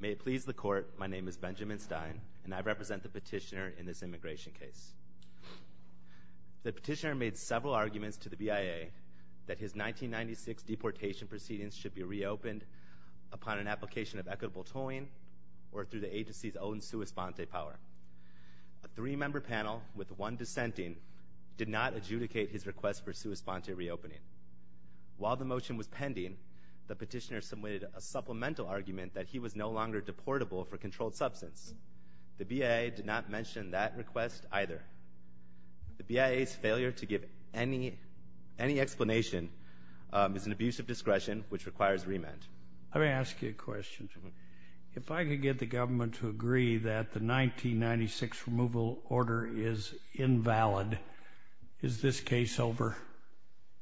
May it please the court, my name is Benjamin Stein, and I represent the petitioner in this immigration case. The petitioner made several arguments to the BIA that his 1996 deportation proceedings should be reopened upon an application of equitable tolling or through the agency's own sua sponte power. A three-member panel with one dissenting did not adjudicate his request for sua sponte reopening. While the motion was pending, the petitioner submitted a supplemental argument that he was no longer deportable for controlled substance. The BIA did not mention that request either. The BIA's failure to give any explanation is an abuse of discretion, which requires remand. Let me ask you a question. If I could get the government to agree that the 1996 removal order is invalid, is this case over?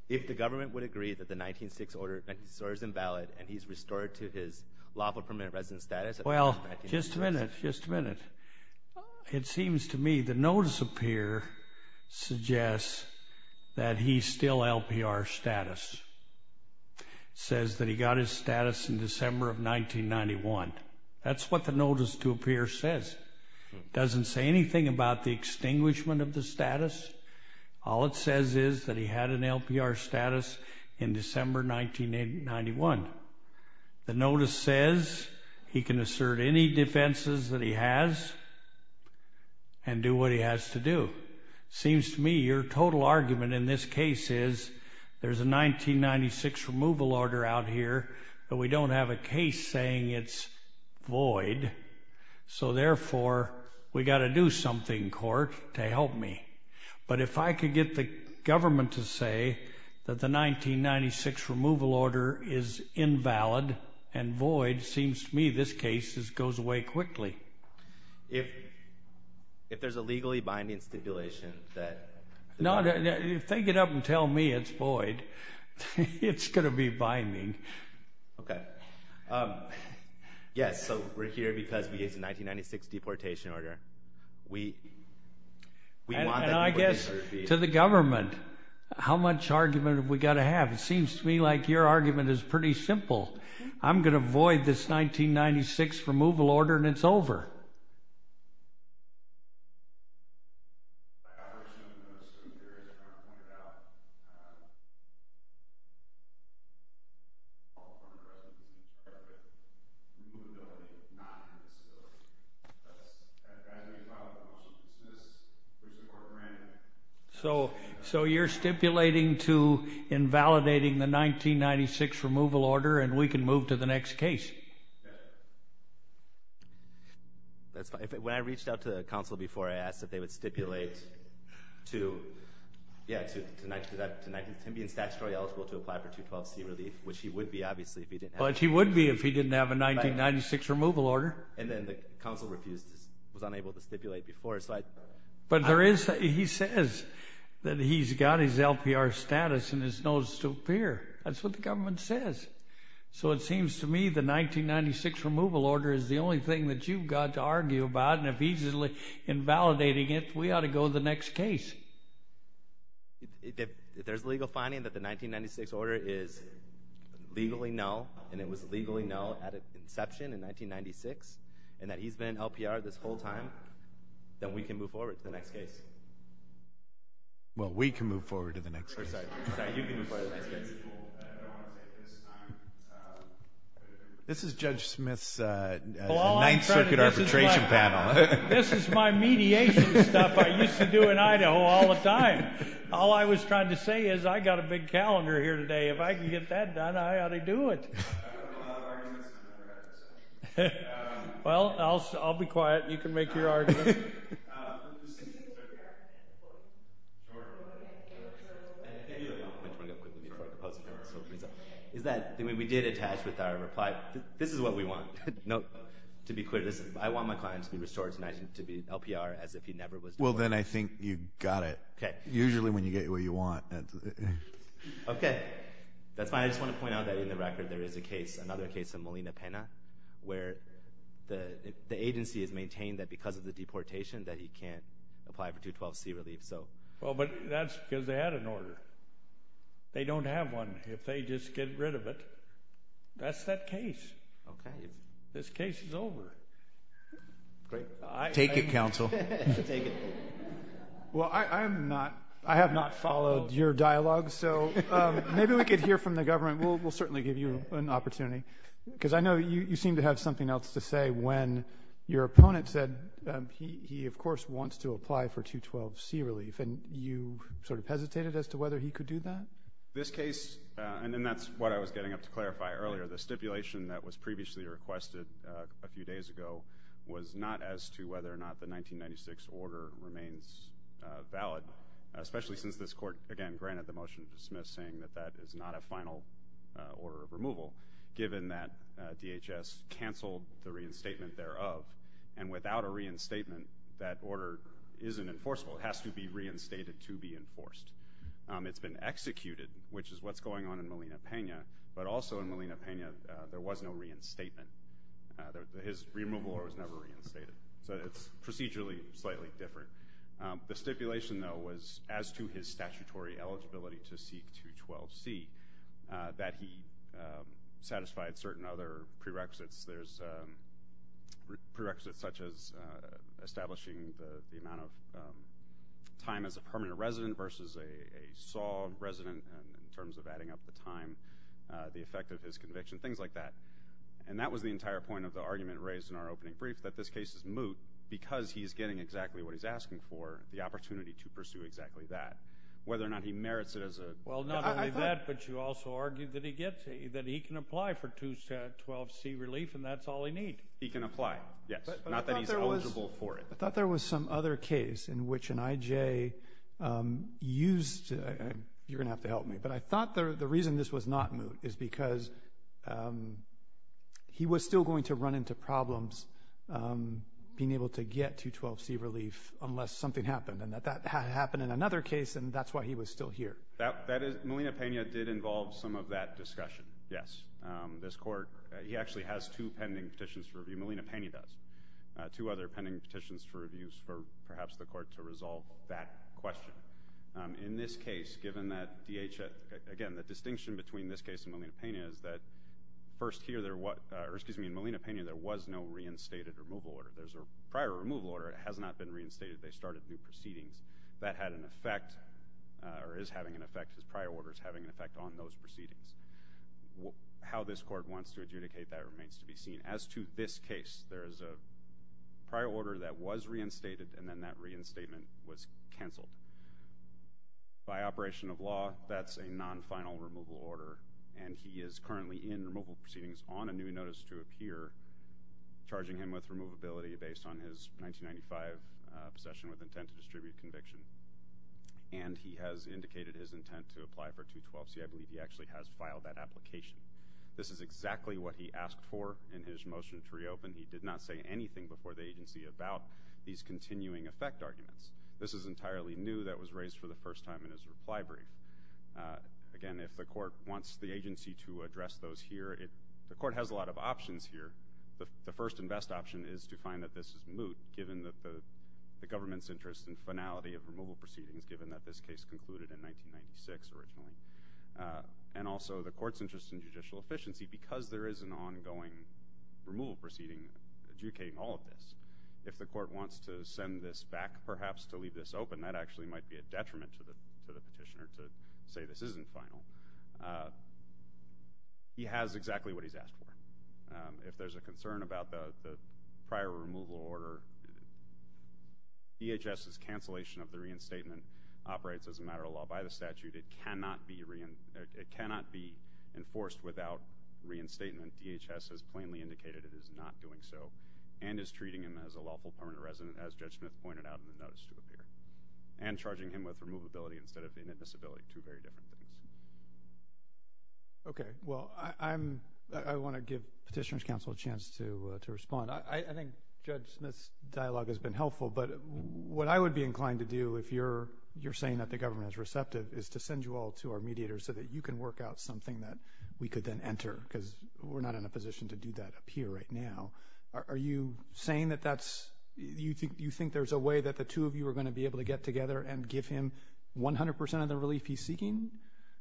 If the government would agree that the 1906 order is invalid and he's restored to his lawful permanent residence status. Well, just a minute, just a minute. It seems to me the notice up here suggests that he's still LPR status. Says that he got his status in December of 1991. That's what the notice to appear says. Doesn't say anything about the extinguishment of the status. All it says is that he had an LPR status in December 1991. The notice says he can assert any defenses that he has and do what he has to do. Seems to me your total argument in this case is there's a 1996 removal order out here, but we don't have a case saying it's void. So therefore, we've got to do something, court, to help me. But if I could get the government to say that the 1996 removal order is invalid and void, seems to me this case goes away quickly. If there's a legally binding stipulation that... No, if they get up and tell me it's void, it's going to be binding. Okay. Yes, so we're here because we get the 1996 deportation order. We want the deportation order to be... And I guess to the government, how much argument have we got to have? It seems to me like your argument is pretty simple. I'm going to void this 1996 removal order and it's over. So you're stipulating to invalidating the 1996 removal order and we can move to the When I reached out to the council before, I asked if they would stipulate to him being statutorily eligible to apply for 212C relief, which he would be, obviously, if he didn't have a 1996 removal order. Which he would be if he didn't have a 1996 removal order. And then the council refused, was unable to stipulate before. But there is, he says that he's got his LPR status and his notice to appear. That's what the government says. So it seems to me the 1996 removal order is the only thing that you've got to argue about. And if he's invalidating it, we ought to go to the next case. There's legal finding that the 1996 order is legally null, and it was legally null at its inception in 1996, and that he's been LPR this whole time, then we can move forward to the next case. Well, we can move forward to the next case. This is Judge Smith's 9th Circuit arbitration panel. This is my mediation stuff I used to do in Idaho all the time. All I was trying to say is I've got a big calendar here today. If I can get that done, I ought to do it. Well, I'll be quiet. You can make your argument. We did attach with our reply, this is what we want. I want my client to be restored to be LPR as if he never was LPR. Well then I think you got it. Usually when you get what you want. Okay. That's fine. I just want to point out that in the record there is a case, another case of Molina Pena, where the agency has maintained that because of the deportation that he can't apply for 212C relief. Well, but that's because they had an order. They don't have one. If they just get rid of it, that's that case. This case is over. Great. Take it, counsel. Take it. Well, I have not followed your dialogue, so maybe we could hear from the government. We'll certainly give you an opportunity, because I know you seem to have something else to say when your opponent said he, of course, wants to apply for 212C relief, and you sort of hesitated as to whether he could do that. This case, and that's what I was getting up to clarify earlier, the stipulation that was previously requested a few days ago was not as to whether or not the 1996 order remains valid, especially since this Court, again, granted the motion to dismiss, saying that that is not a final order of removal, given that DHS canceled the reinstatement thereof, and without a reinstatement, that order isn't enforceable. It has to be reinstated to be enforced. It's been executed, which is what's going on in Molina-Pena, but also in Molina-Pena, there was no reinstatement. His removal order was never reinstated, so it's procedurally slightly different. The stipulation, though, was as to his statutory eligibility to seek 212C, that he satisfied certain other prerequisites. There's prerequisites such as establishing the amount of time as a permanent resident versus a solid resident, in terms of adding up the time, the effect of his conviction, things like that. And that was the entire point of the argument raised in our opening brief, that this case is moot because he's getting exactly what he's asking for, the opportunity to pursue exactly that, whether or not he merits it as a... Well, not only that, but you also argued that he can apply for 212C relief, and that's all he needs. He can apply, yes. Not that he's eligible for it. I thought there was some other case in which an IJ used... you're going to have to help me, but I thought the reason this was not moot is because he was still going to run into problems being able to get 212C relief, unless something happened, and that happened in another case, and that's why he was still here. That is... Molina-Pena did involve some of that discussion, yes. This Court... he actually has two pending petitions to review, Molina-Pena does, two other pending petitions to review for, perhaps, the Court to resolve that question. In this case, given that DHS... again, the distinction between this case and Molina-Pena is that, first here, there was... or, excuse me, in Molina-Pena, there was no reinstated removal order. There's a prior removal order. It has not been reinstated. They started new proceedings. That had an effect, or is having an effect, his prior orders having an effect on those proceedings. How this Court wants to adjudicate that remains to be seen. As to this case, there is a prior order that was reinstated, and then that reinstatement was canceled. By operation of law, that's a non-final removal order, and he is currently in removal proceedings on a new notice to appear, charging him with removability based on his 1995 possession with intent to distribute conviction. And he has indicated his intent to apply for 212C. I believe he actually has filed that application. This is exactly what he asked for in his motion to reopen. He did not say anything before the agency about these continuing effect arguments. This is entirely new. That was raised for the first time in his reply brief. Again, if the Court wants the agency to address those here, the Court has a lot of options here. The first and best option is to find that this is moot, given that the government's interest in finality of removal proceedings, given that this case concluded in 1996 originally, and also the Court's interest in judicial efficiency, because there is an ongoing removal proceeding adjudicating all of this. If the Court wants to send this back, perhaps, to leave this open, that actually might be a detriment to the petitioner to say this isn't final. He has exactly what he's asked for. If there's a concern about the prior removal order, DHS's cancellation of the reinstatement operates as a matter of law by the statute. It cannot be enforced without reinstatement. DHS has plainly indicated it is not doing so, and is treating him as a lawful permanent resident, as Judge Smith pointed out in the notice to appear, and charging him with removability instead of inadmissibility. Two very different things. Okay. Well, I want to give Petitioner's Counsel a chance to respond. I think Judge Smith's dialogue has been helpful, but what I would be inclined to do, if you're saying that the government is receptive, is to send you all to our mediators so that you can work out something that we could then enter, because we're not in a position to do that up here right now. Are you saying that that's, you think there's a way that the two of you are going to be able to get together and give him 100% of the relief he's seeking?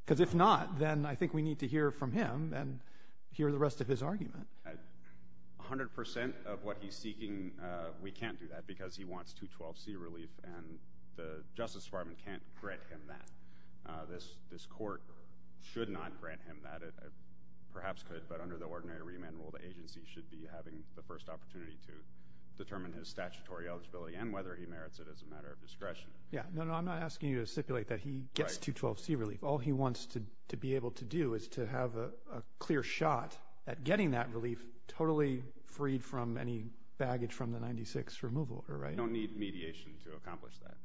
Because if not, then I think we need to hear from him, and hear the rest of his argument. 100% of what he's seeking, we can't do that, because he wants 212C relief, and the Justice Department can't grant him that. This Court should not grant him that. It perhaps could, but under the ordinary remand rule, the agency should be having the first opportunity to determine his statutory eligibility, and whether he merits it as a matter of discretion. Yeah. No, no, I'm not asking you to stipulate that he gets 212C relief. All he wants to be able to do is to have a clear shot at getting that relief totally freed from any baggage from the 96 removal. You don't need mediation to accomplish that.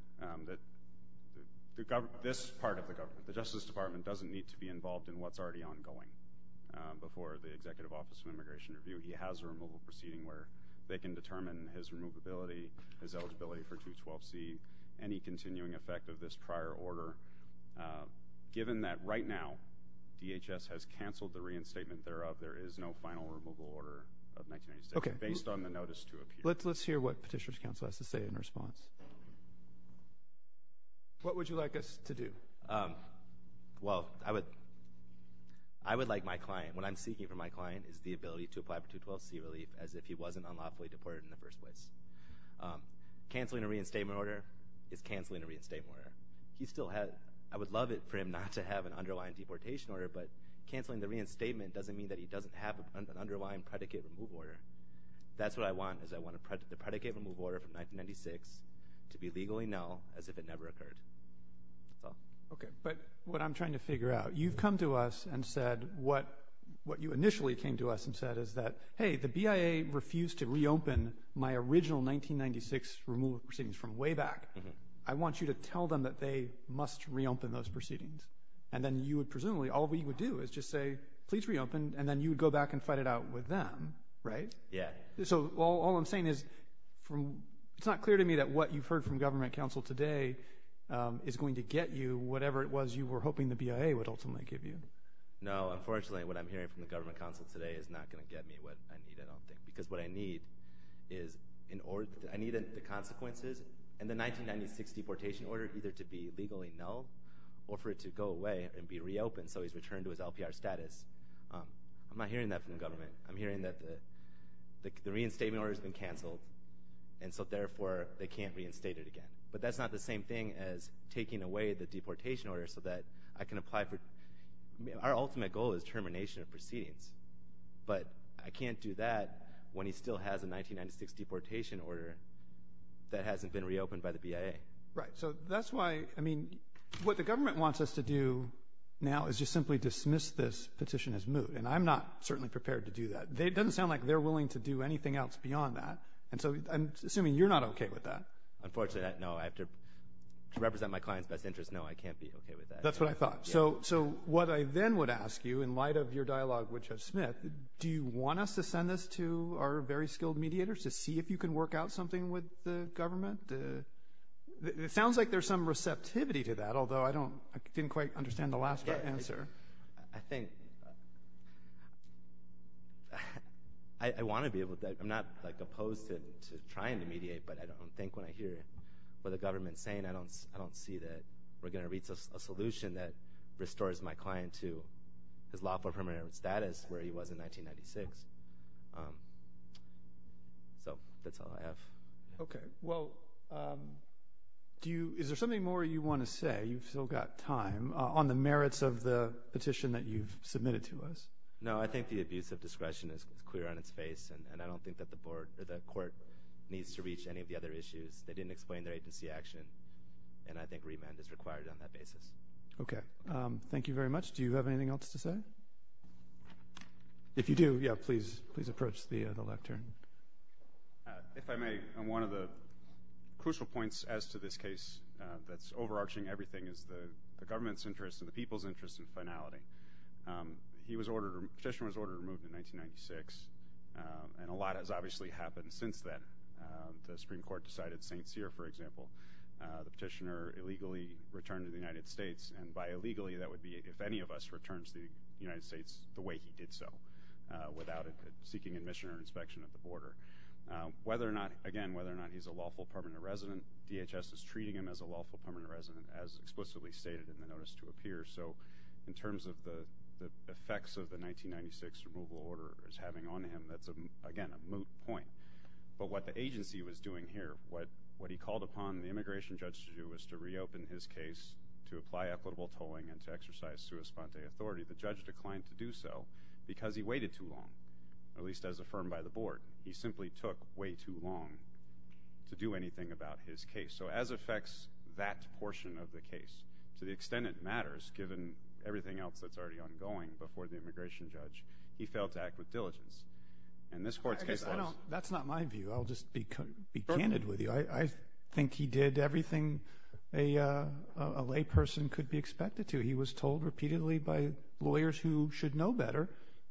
This part of the government, the Justice Department, doesn't need to be involved in what's already ongoing. Before the Executive Office of Immigration Review, he has a removal proceeding where they can determine his removability, his eligibility for 212C, any continuing effect of this prior order. Given that, right now, DHS has canceled the reinstatement thereof, there is no final removal order of 1996. Okay. Based on the notice to appear. Let's hear what Petitioner's Counsel has to say in response. What would you like us to do? Well, I would like my client, what I'm seeking from my client is the ability to apply for 212C relief as if he wasn't unlawfully deported in the first place. Canceling a reinstatement order is canceling a reinstatement order. He still has, I would love it for him not to have an underlying deportation order, but canceling the reinstatement doesn't mean that he doesn't have an underlying predicate removal order. That's what I want, is I want the predicate removal order from 1996 to be legally null as if it never occurred. Okay. But what I'm trying to figure out, you've come to us and said, what you initially came to us and said is that, hey, the BIA refused to reopen my original 1996 removal proceedings from way back. I want you to tell them that they must reopen those proceedings. And then you would presumably, all we would do is just say, please reopen, and then you would go back and fight it out with them, right? Yeah. So all I'm saying is, it's not clear to me that what you've heard from government counsel today is going to get you whatever it was you were hoping the BIA would ultimately give you. No, unfortunately, what I'm hearing from the government counsel today is not going to get me what I need, I don't think, because what I need is in order, I need the consequences and the 1996 deportation order either to be legally null or for it to go away and be reopened so he's returned to his LPR status. I'm not hearing that from the government. I'm hearing that the reinstatement order has been canceled, and so therefore they can't reinstate it again. But that's not the same thing as taking away the deportation order so that I can apply for, our ultimate goal is termination of proceedings. But I can't do that when he still has a 1996 deportation order that hasn't been reopened by the BIA. Right. So that's why, I mean, what the government wants us to do now is just simply dismiss this petition as moot, and I'm not certainly prepared to do that. It doesn't sound like they're willing to do anything else beyond that, and so I'm assuming you're not okay with that. Unfortunately, no, I have to represent my client's best interest, no, I can't be okay with that. That's what I thought. So what I then would ask you, in light of your dialogue with Judge Smith, do you want us to send this to our very skilled mediators to see if you can work out something with the government? It sounds like there's some receptivity to that, although I don't, I didn't quite understand the last part of the answer. I think, I want to be able to, I'm not opposed to trying to mediate, but I don't think when I hear what the government's saying, I don't see that we're going to reach a solution that restores my client to his lawful permanent status where he was in 1996. So that's all I have. Okay, well, do you, is there something more you want to say? You've still got time. On the merits of the petition that you've submitted to us. No, I think the abuse of discretion is clear on its face, and I don't think that the court needs to reach any of the other issues. They didn't explain their agency action, and I think remand is required on that basis. Okay. Thank you very much. Do you have anything else to say? If you do, yeah, please, please approach the left turn. If I may, on one of the crucial points as to this case that's overarching everything is the government's interest and the people's interest in finality. He was ordered, the petitioner was ordered removed in 1996, and a lot has obviously happened since then. The Supreme Court decided St. Cyr, for example, the petitioner illegally returned to the United States, and by illegally, that would be if any of us returns to the United States the way he did so, without seeking admission or inspection at the border. Whether or not, again, whether or not he's a lawful permanent resident, DHS is treating him as a lawful permanent resident, as explicitly stated in the notice to appear, so in terms of the effects of the 1996 removal order is having on him, that's, again, a moot point. But what the agency was doing here, what he called upon the immigration judge to do was to reopen his case, to apply equitable tolling, and to exercise sua sponte authority. The judge declined to do so because he waited too long, at least as affirmed by the board. He simply took way too long to do anything about his case. So as affects that portion of the case, to the extent it matters, given everything else that's already ongoing before the immigration judge, he failed to act with diligence, and this court's case was- I guess I don't, that's not my view. I'll just be candid with you. I think he did everything a lay person could be expected to. He was told repeatedly by lawyers who should know better,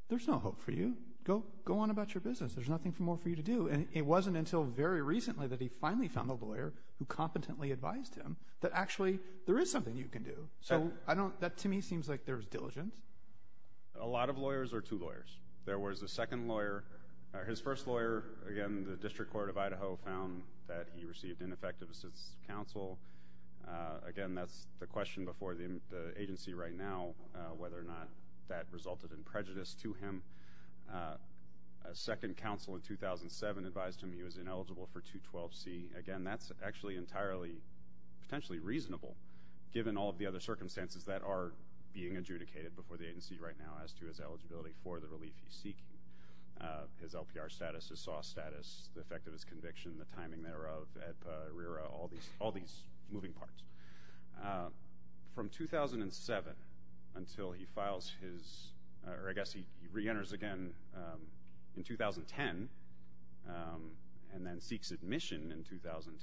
there's no hope for you. Go on about your business. There's nothing more for you to do. And it wasn't until very recently that he finally found a lawyer who competently advised him that actually there is something you can do. So I don't, that to me seems like there's diligence. A lot of lawyers are two lawyers. There was a second lawyer, his first lawyer, again, the District Court of Idaho found that he received ineffective assistance from counsel. Again, that's the question before the agency right now, whether or not that resulted in prejudice to him. A second counsel in 2007 advised him he was ineligible for 212C. Again, that's actually entirely, potentially reasonable, given all of the other circumstances that are being adjudicated before the agency right now as to his eligibility for the relief he's seeking, his LPR status, his SAW status, the effect of his conviction, the timing thereof, all these moving parts. From 2007 until he files his, or I guess he reenters again in 2010 and then seeks admission in 2010,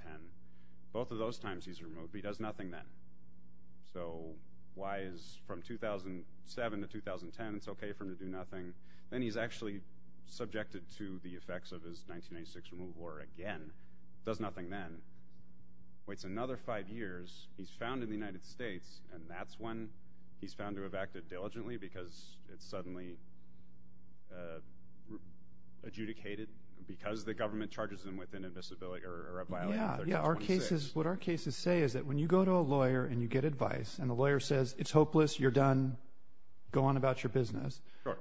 both of those times he's removed, but he does nothing then. So why is, from 2007 to 2010 it's okay for him to do nothing, then he's actually subjected to the effects of his 1996 removal order again, does nothing then, waits another five years, he's found in the United States, and that's when he's found to have acted diligently because it's suddenly adjudicated because the government charges him with an invisibility, or a violation of 1326. Yeah, yeah, our cases, what our cases say is that when you go to a lawyer and you get advice and the lawyer says, it's hopeless, you're done, go on about your business,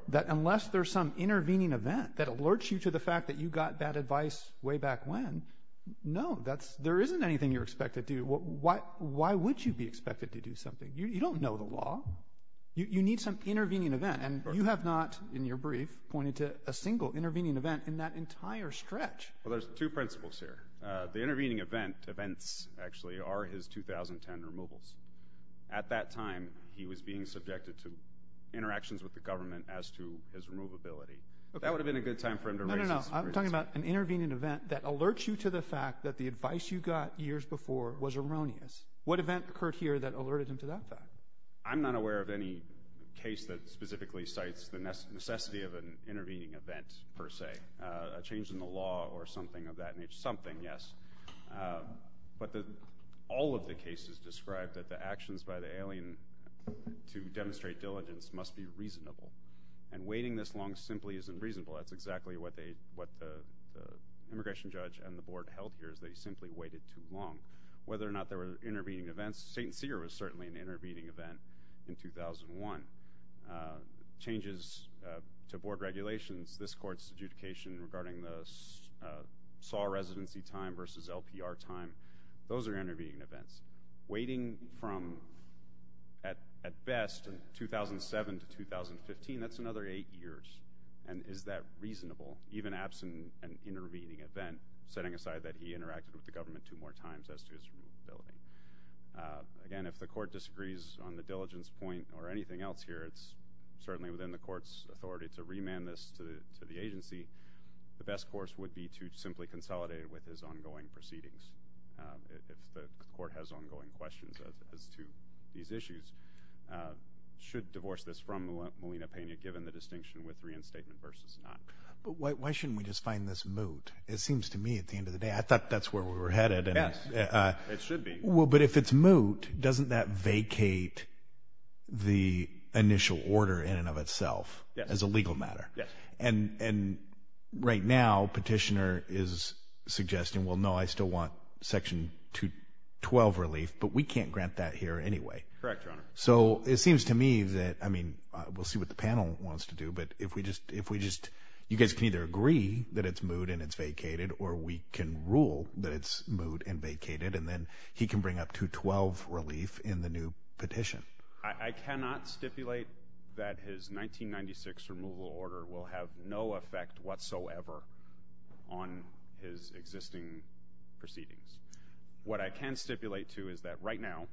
that unless there's some intervening event that alerts you to the fact that you got bad advice way back when, no, that's, there isn't anything you're expected to do, why would you be expected to do something? You don't know the law, you need some intervening event, and you have not, in your brief, pointed to a single intervening event in that entire stretch. Well there's two principles here, the intervening event, events actually, are his 2010 removals. At that time, he was being subjected to interactions with the government as to his removability. That would have been a good time for him to raise his voice. No, no, no, I'm talking about an intervening event that alerts you to the fact that the advice you got years before was erroneous. What event occurred here that alerted him to that fact? I'm not aware of any case that specifically cites the necessity of an intervening event per se, a change in the law or something of that nature, something, yes, but all of the cases describe that the actions by the alien to demonstrate diligence must be reasonable. And waiting this long simply isn't reasonable, that's exactly what they, what the immigration judge and the board held here, is they simply waited too long. Whether or not there were intervening events, St. Cyr was certainly an intervening event in 2001. Changes to board regulations, this court's adjudication regarding the SAW residency time Those are intervening events. Waiting from, at best, 2007 to 2015, that's another eight years. And is that reasonable, even absent an intervening event, setting aside that he interacted with the government two more times as to his removability? Again, if the court disagrees on the diligence point or anything else here, it's certainly within the court's authority to remand this to the agency. The best course would be to simply consolidate it with his ongoing proceedings, if the court has ongoing questions as to these issues. Should divorce this from Molina-Pena, given the distinction with reinstatement versus not. But why shouldn't we just find this moot? It seems to me, at the end of the day, I thought that's where we were headed. Yes. It should be. Well, but if it's moot, doesn't that vacate the initial order in and of itself as a legal matter? Yes. And right now, petitioner is suggesting, well, no, I still want section 212 relief, but we can't grant that here anyway. Correct, Your Honor. So, it seems to me that, I mean, we'll see what the panel wants to do, but if we just, you guys can either agree that it's moot and it's vacated, or we can rule that it's moot and vacated, and then he can bring up 212 relief in the new petition. I cannot stipulate that his 1996 removal order will have no effect whatsoever on his existing proceedings. What I can stipulate, too, is that right now...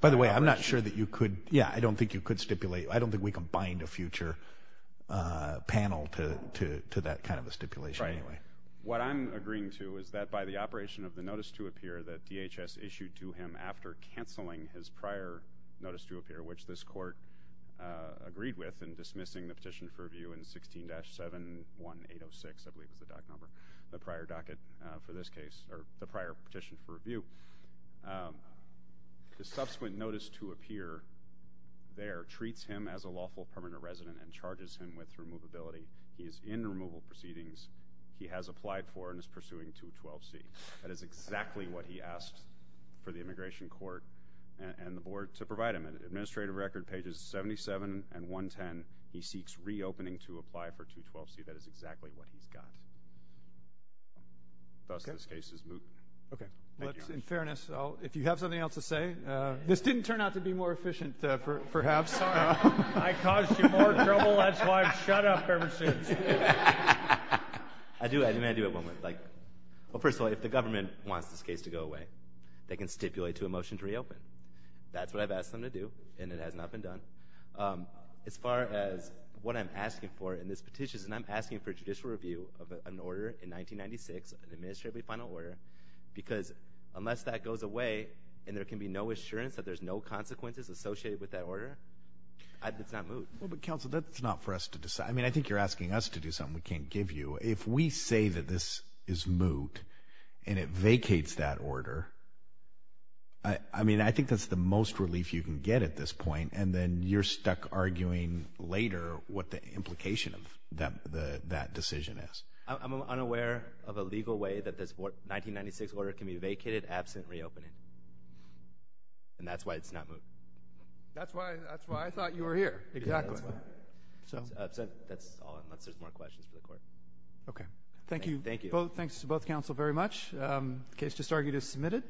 By the way, I'm not sure that you could, yeah, I don't think you could stipulate, I don't think we can bind a future panel to that kind of a stipulation anyway. Right. What I'm agreeing to is that by the operation of the notice to appear that DHS issued to him after canceling his prior notice to appear, which this court agreed with in dismissing the petition for review in 16-71806, I believe is the doc number, the prior docket for this case, or the prior petition for review, the subsequent notice to appear there treats him as a lawful permanent resident and charges him with removability. He is in removal proceedings. He has applied for and is pursuing 212C. That is exactly what he asked for the immigration court and the board to provide him. In the administrative record, pages 77 and 110, he seeks reopening to apply for 212C. That is exactly what he's got. Thus, this case is moot. Okay. Thank you, Your Honor. In fairness, if you have something else to say... This didn't turn out to be more efficient, perhaps. I caused you more trouble. That's why I've shut up ever since. I do. I mean, I do at one point. First of all, if the government wants this case to go away, they can stipulate to a motion to reopen. That's what I've asked them to do, and it has not been done. As far as what I'm asking for in this petition, I'm asking for judicial review of an order in 1996, an administratively final order, because unless that goes away and there can be no assurance that there's no consequences associated with that order, it's not moot. Well, but counsel, that's not for us to decide. I mean, I think you're asking us to do something we can't give you. If we say that this is moot, and it vacates that order, I mean, I think that's the most relief you can get at this point, and then you're stuck arguing later what the implication of that decision is. I'm unaware of a legal way that this 1996 order can be vacated absent reopening, and that's why it's not moot. That's why I thought you were here, exactly. So that's all. Unless there's more questions for the court. Okay. Thank you. Thank you. Well, thanks to both counsel very much. The case just argued is submitted.